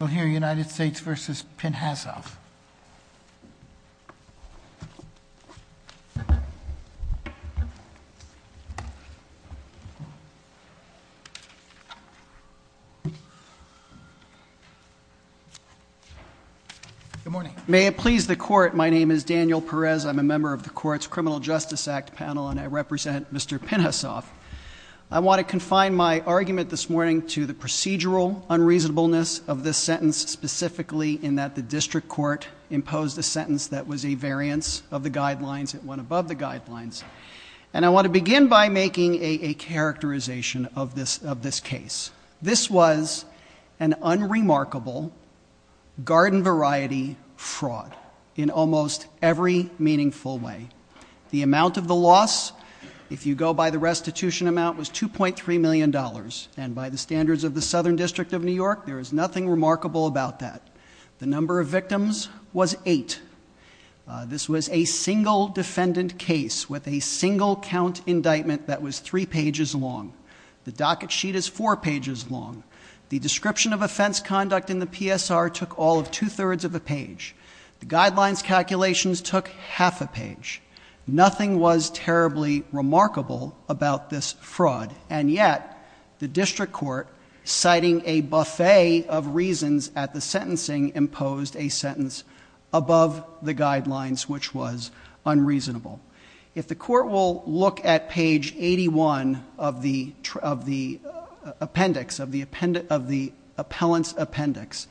Good morning. May it please the Court, my name is Daniel Perez. I'm a member of the Court's Criminal Justice Act panel and I represent Mr. Pinhasoff. I want to confine my argument this morning to the procedural unreasonableness of this sentence, specifically in that the District Court imposed a sentence that was a variance of the guidelines. It went above the guidelines. And I want to begin by making a characterization of this case. This was an unremarkable garden variety fraud in almost every meaningful way. The amount of the loss, if you go by the restitution amount, was $2.3 million. And by the standards of the Southern District of New York, there is nothing remarkable about that. The number of victims was eight. This was a single defendant case with a single count indictment that was three pages long. The docket sheet is four pages long. The description of offense conduct in the PSR took all of two-thirds of a page. The guidelines calculations took half a page. Nothing was terribly remarkable about this fraud. And yet, the District Court, citing a buffet of reasons at the sentencing, imposed a sentence above the guidelines, which was unreasonable. If the Court will look at page 81 of the appendix, of the appellant's appendix,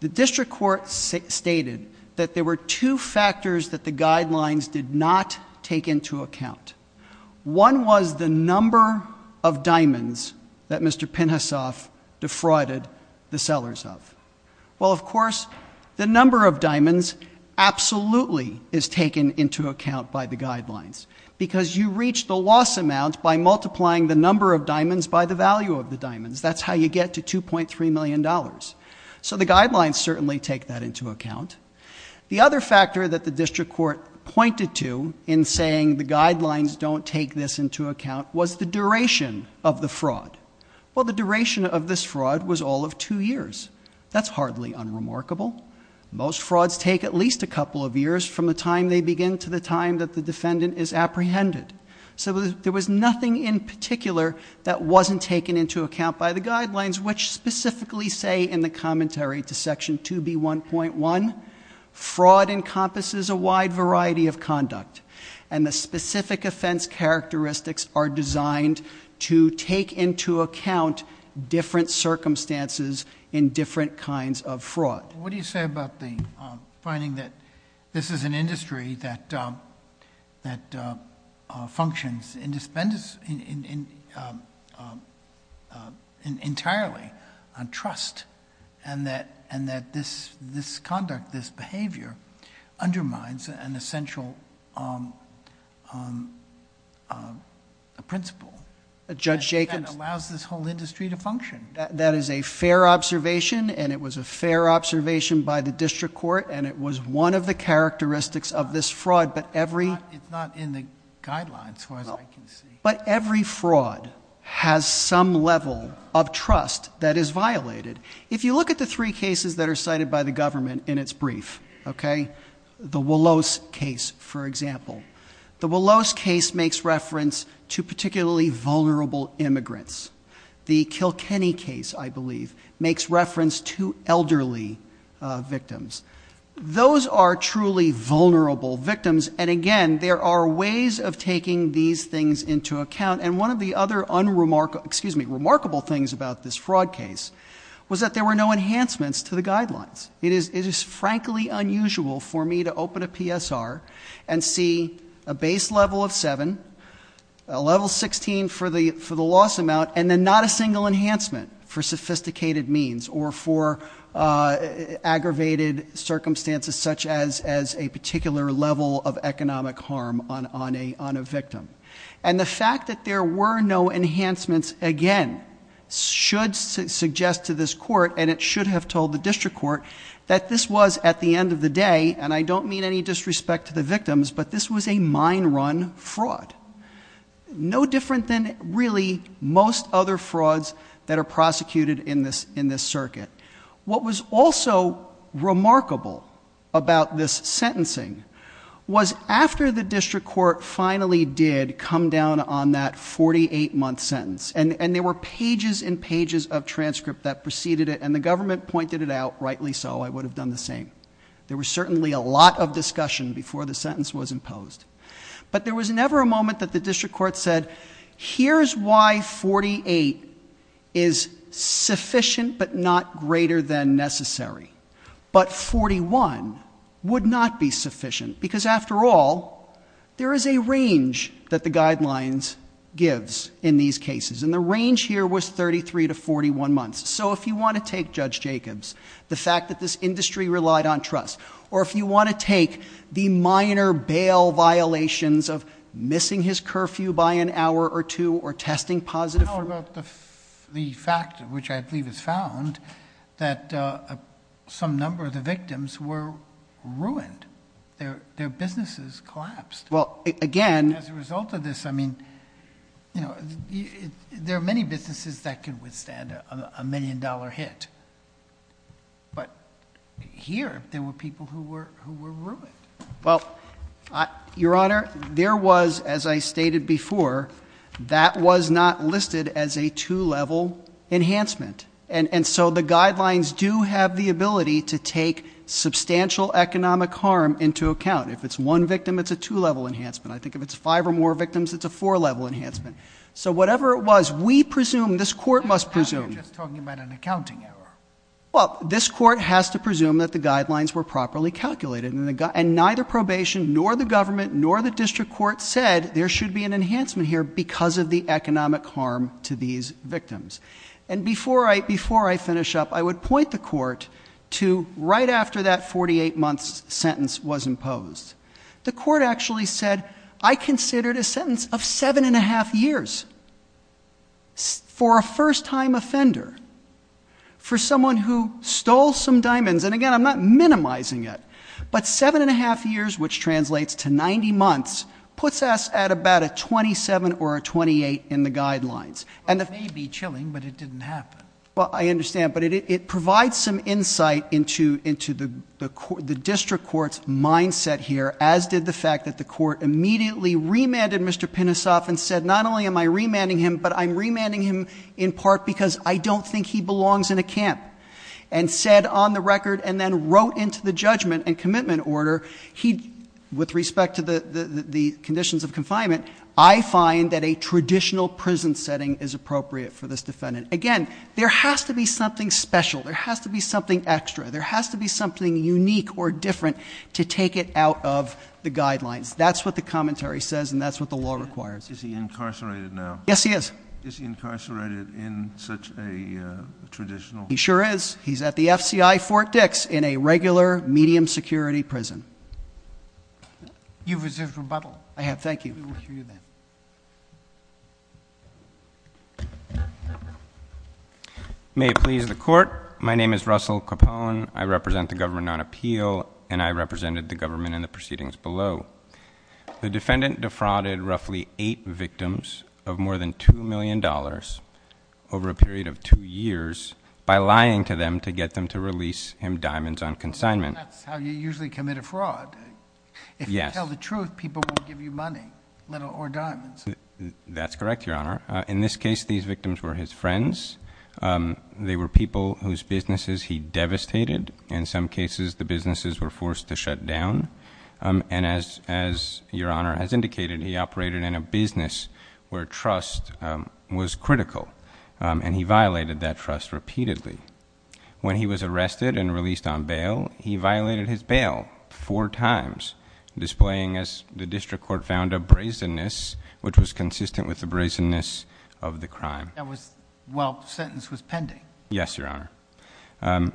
the District Court stated that there were two factors that the guidelines did not take into account. One was the number of diamonds that Mr. Pinhasoff defrauded the sellers of. Well, of course, the number of diamonds absolutely is taken into account by the guidelines, because you reach the loss amount by multiplying the number of diamonds by the value of the diamonds. That's how you get to $2.3 million. So the guidelines certainly take that into account. The other factor that the District Court pointed to in saying the guidelines don't take this into account was the duration of the fraud. Well, the duration of this fraud was all of two years. That's hardly unremarkable. Most of the time, they begin to the time that the defendant is apprehended. So there was nothing in particular that wasn't taken into account by the guidelines, which specifically say in the commentary to section 2B1.1, fraud encompasses a wide variety of conduct. And the specific offense characteristics are designed to take into account different circumstances in different kinds of fraud. What do you say about the finding that this is an industry that functions entirely on trust and that this conduct, this behavior, undermines an essential principle that allows this whole industry to function? That is a fair observation, and it was a fair observation by the District Court, and it was one of the characteristics of this fraud. But it's not in the guidelines, as far as I can see. But every fraud has some level of trust that is violated. If you look at the three cases that are cited by the government in its brief, the Willows case, for example, the Willows case, I believe, makes reference to elderly victims. Those are truly vulnerable victims. And again, there are ways of taking these things into account. And one of the other remarkable things about this fraud case was that there were no enhancements to the guidelines. It is frankly unusual for me to open a PSR and see a base level of 7, a level 16 for the loss amount, and then not a single enhancement for sophisticated means or for aggravated circumstances such as a particular level of economic harm on a victim. And the fact that there were no enhancements, again, should suggest to this Court, and it should have told the District Court, that this was, at the end of the day, and I don't mean any disrespect to the victims, but this was a mine run fraud. No different than really most other frauds that are prosecuted in this circuit. What was also remarkable about this sentencing was after the District Court finally did come down on that 48-month sentence, and there were pages and pages of transcript that preceded it, and the government pointed it out, rightly so, I would have done the same. There were certainly a lot of discussion before the sentence was imposed. But there was never a moment that the District Court said, here's why 48 is sufficient but not greater than necessary. But 41 would not be sufficient, because after all, there is a range that the guidelines gives in these cases, and the range here was 33 to 41 months. So if you want to take, Judge Jacobs, the fact that this industry relied on trust, or if you want to take the minor bail violations of missing his curfew by an hour or two, or testing positive... I don't know about the fact, which I believe is found, that some number of the victims were ruined. Their businesses collapsed. Well, again... As a result of this, I mean, you know, there are many businesses that can withstand a million dollar hit. But here, there were people who were ruined. Well, Your Honor, there was, as I stated before, that was not listed as a two-level enhancement. And so the guidelines do have the ability to take substantial economic harm into account. If it's one victim, it's a two-level enhancement. I think if it's five or more victims, it's a four-level enhancement. So whatever it was, we presume, this Court must presume... You're just talking about an accounting error. Well, this Court has to presume that the guidelines were properly calculated. And neither probation, nor the government, nor the district court said there should be an enhancement here because of the economic harm to these victims. And before I finish up, I would point the Court to right after that 48-month sentence was imposed. The Court actually said, I considered a sentence of seven and a half years for a first-time offender, for someone who stole some diamonds. And again, I'm not minimizing it. But seven and a half years, which translates to 90 months, puts us at about a 27 or a 28 in the guidelines. And it may be chilling, but it didn't happen. Well, I understand. But it provides some insight into the district court's mindset here, as did the fact that the Court immediately remanded Mr. Pinnasoff and said, not only am I remanding him, but I'm remanding him in part because I don't think he belongs in a camp, and said on the record and then wrote into the judgment and commitment order, he, with respect to the conditions of confinement, I find that a traditional prison setting is appropriate for this defendant. Again, there has to be something special. There has to be something extra. There has to be something unique or different to take it out of the guidelines. That's what the commentary says, and that's what the law requires. Is he incarcerated now? Yes, he is. Is he incarcerated in such a traditional? He sure is. He's at the FCI Fort Dix in a regular, medium-security prison. You've received rebuttal. I have. Thank you. We will hear you then. May it please the Court, my name is Russell Capone. I represent the government on appeal, and I represented the government in the proceedings below. The defendant defrauded roughly eight victims of more than $2 million over a period of two years by lying to them to get them to release him diamonds on consignment. That's how you usually commit a fraud. If you tell the truth, people will give you money or diamonds. That's correct, Your Honor. In this case, these victims were his friends. They were people whose businesses he devastated. In some cases, the businesses were forced to close. As Your Honor has indicated, he operated in a business where trust was critical, and he violated that trust repeatedly. When he was arrested and released on bail, he violated his bail four times, displaying, as the District Court found, a brazenness which was consistent with the brazenness of the crime. That was while the sentence was pending. Yes, Your Honor.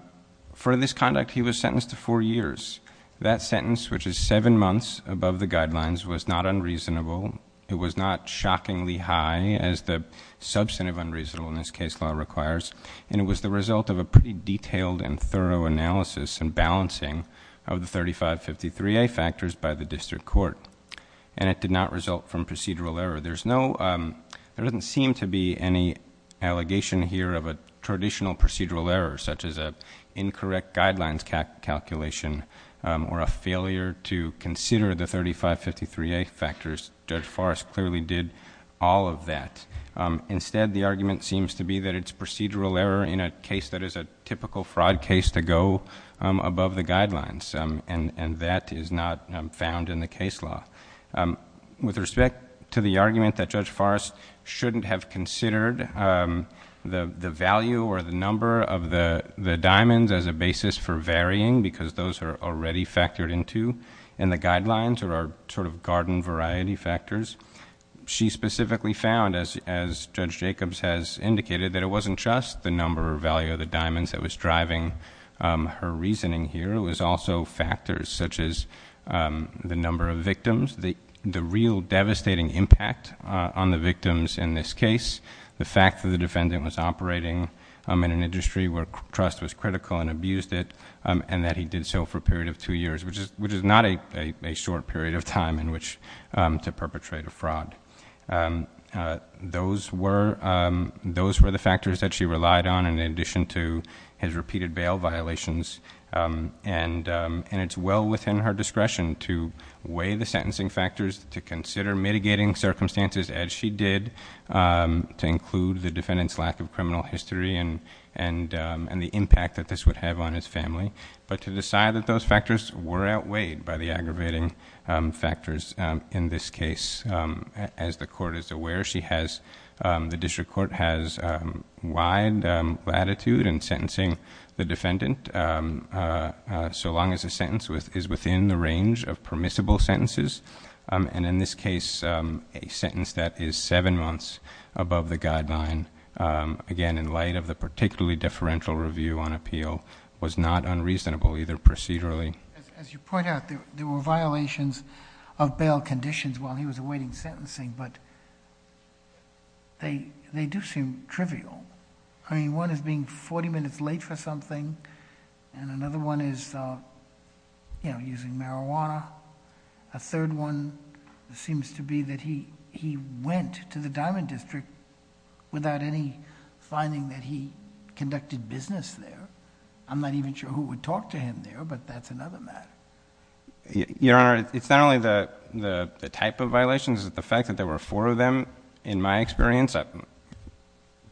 For this conduct, he was sentenced to four years. That sentence, which is seven months above the guidelines, was not unreasonable. It was not shockingly high as the substantive unreasonableness case law requires. It was the result of a pretty detailed and thorough analysis and balancing of the 3553A factors by the District Court. It did not result from procedural error. There doesn't seem to be any allegation here of a traditional procedural error, such as an incorrect guidelines calculation or a failure to consider the 3553A factors. Judge Forrest clearly did all of that. Instead, the argument seems to be that it's procedural error in a case that is a typical fraud case to go above the guidelines. That is not found in the case law. With respect to the argument that Judge Forrest shouldn't have considered the value or the diamonds as a basis for varying, because those are already factored into in the guidelines or are sort of garden variety factors, she specifically found, as Judge Jacobs has indicated, that it wasn't just the number or value of the diamonds that was driving her reasoning here. It was also factors such as the number of victims, the real devastating impact on the victims in this case, the fact that the defendant was operating in an industry where trust was critical and abused it, and that he did so for a period of two years, which is not a short period of time in which to perpetrate a fraud. Those were the factors that she relied on in addition to his repeated bail violations. It's well within her discretion to weigh the sentencing factors, to consider mitigating circumstances as she did, to include the defendant's lack of criminal history and the impact that this would have on his family, but to decide that those factors were outweighed by the aggravating factors in this case. As the court is aware, the district court has wide latitude in sentencing the defendant so long as the sentence is within the range of permissible sentences, and in this case, a sentence that is seven months above the guideline, again, in light of the particularly deferential review on appeal, was not unreasonable, either procedurally... As you point out, there were violations of bail conditions while he was awaiting sentencing, but they do seem trivial. I mean, one is being forty minutes late for something, and another one is, you know, using marijuana. A third one seems to be that he went to the Diamond District without any finding that he conducted business there. I'm not even sure who would talk to him there, but that's another matter. Your Honor, it's not only the type of violations, it's the fact that there were four of them, in my experience.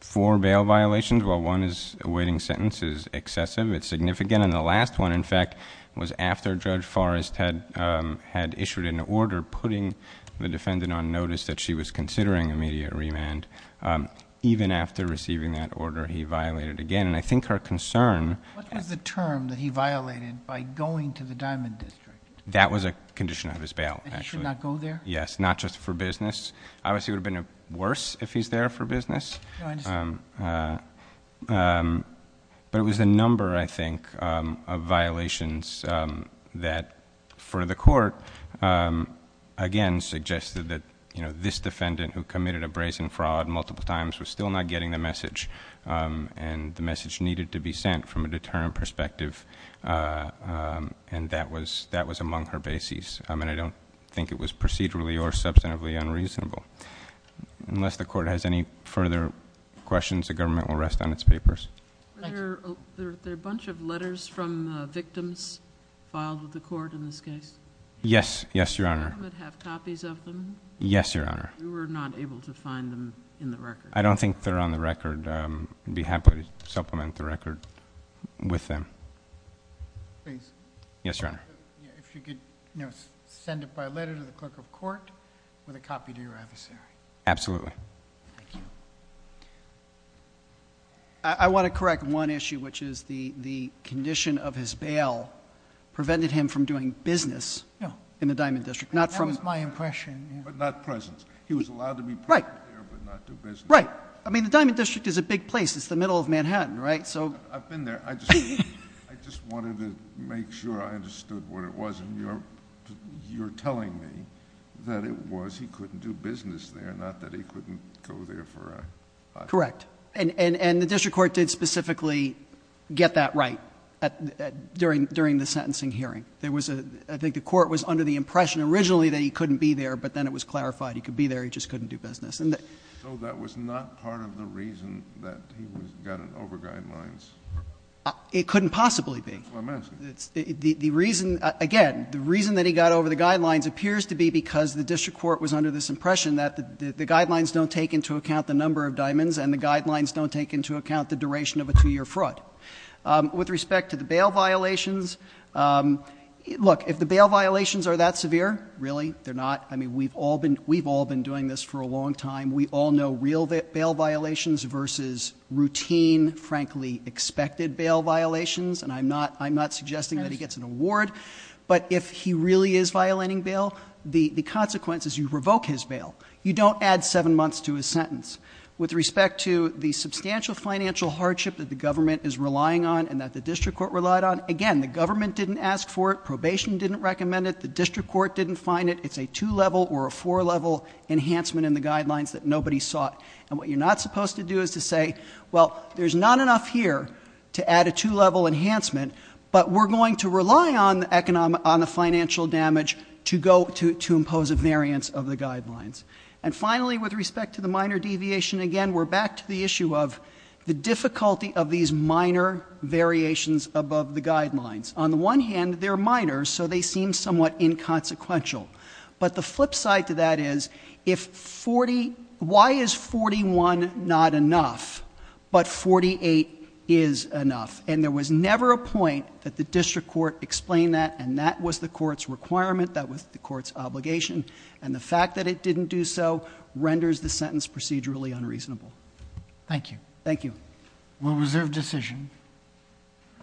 Four bail violations while one is awaiting sentence is excessive, it's significant, and the last one, in fact, was after Judge Forrest had issued an order putting the defendant on notice that she was considering immediate remand. Even after receiving that order, he violated again, and I think her concern... What was the term that he violated by going to the Diamond District? That was a condition of his bail, actually. That he should not go there? Yes. Not just for business. Obviously, it would have been worse if he's there for business, but it was the number, I think, of violations that for the court, again, suggested that this defendant who committed a brazen fraud multiple times was still not getting the message, and the message needed to be sent from a deterrent perspective, and that was among her bases. I mean, I don't think it was procedurally or substantively unreasonable. Unless the court has any further questions, the government will rest on its papers. Thank you. Are there a bunch of letters from victims filed with the court in this case? Yes. Yes, Your Honor. Does the government have copies of them? Yes, Your Honor. We were not able to find them in the record. I don't think they're on the record. I'd be happy to supplement the record with them. Please. Yes, Your Honor. If you could send it by letter to the clerk of court with a copy to your adversary. Absolutely. Thank you. I want to correct one issue, which is the condition of his bail prevented him from doing business in the Diamond District. Not from... That was my impression. But not presence. He was allowed to be present there, but not do business. Right. I mean, the Diamond District is a big place. It's the middle of Manhattan, right? So... I've been there. I just wanted to make sure I understood what it was. And you're telling me that it was he couldn't do business there, not that he couldn't go there for a... Correct. And the district court did specifically get that right during the sentencing hearing. There was a — I think the court was under the impression originally that he couldn't And the... So that was not part of the reason that he was gotten over guidelines? It couldn't possibly be. That's what I'm asking. The reason — again, the reason that he got over the guidelines appears to be because the district court was under this impression that the guidelines don't take into account the number of diamonds, and the guidelines don't take into account the duration of a two-year fraud. With respect to the bail violations, look, if the bail violations are that severe, really they're not. I mean, we've all been doing this for a long time. We all know real bail violations versus routine, frankly, expected bail violations, and I'm not suggesting that he gets an award. But if he really is violating bail, the consequence is you revoke his bail. You don't add seven months to his sentence. With respect to the substantial financial hardship that the government is relying on and that the district court relied on, again, the government didn't ask for it. Probation didn't recommend it. The district court didn't find it. It's a two-level or a four-level enhancement in the guidelines that nobody sought. And what you're not supposed to do is to say, well, there's not enough here to add a two-level enhancement, but we're going to rely on the financial damage to go to impose a variance of the guidelines. And finally, with respect to the minor deviation, again, we're back to the issue of the difficulty of these minor variations above the guidelines. On the one hand, they're minor, so they seem somewhat inconsequential. But the flip side to that is, why is 41 not enough, but 48 is enough? And there was never a point that the district court explained that, and that was the court's requirement. That was the court's obligation. And the fact that it didn't do so renders the sentence procedurally unreasonable. Thank you. Thank you. We'll reserve decision.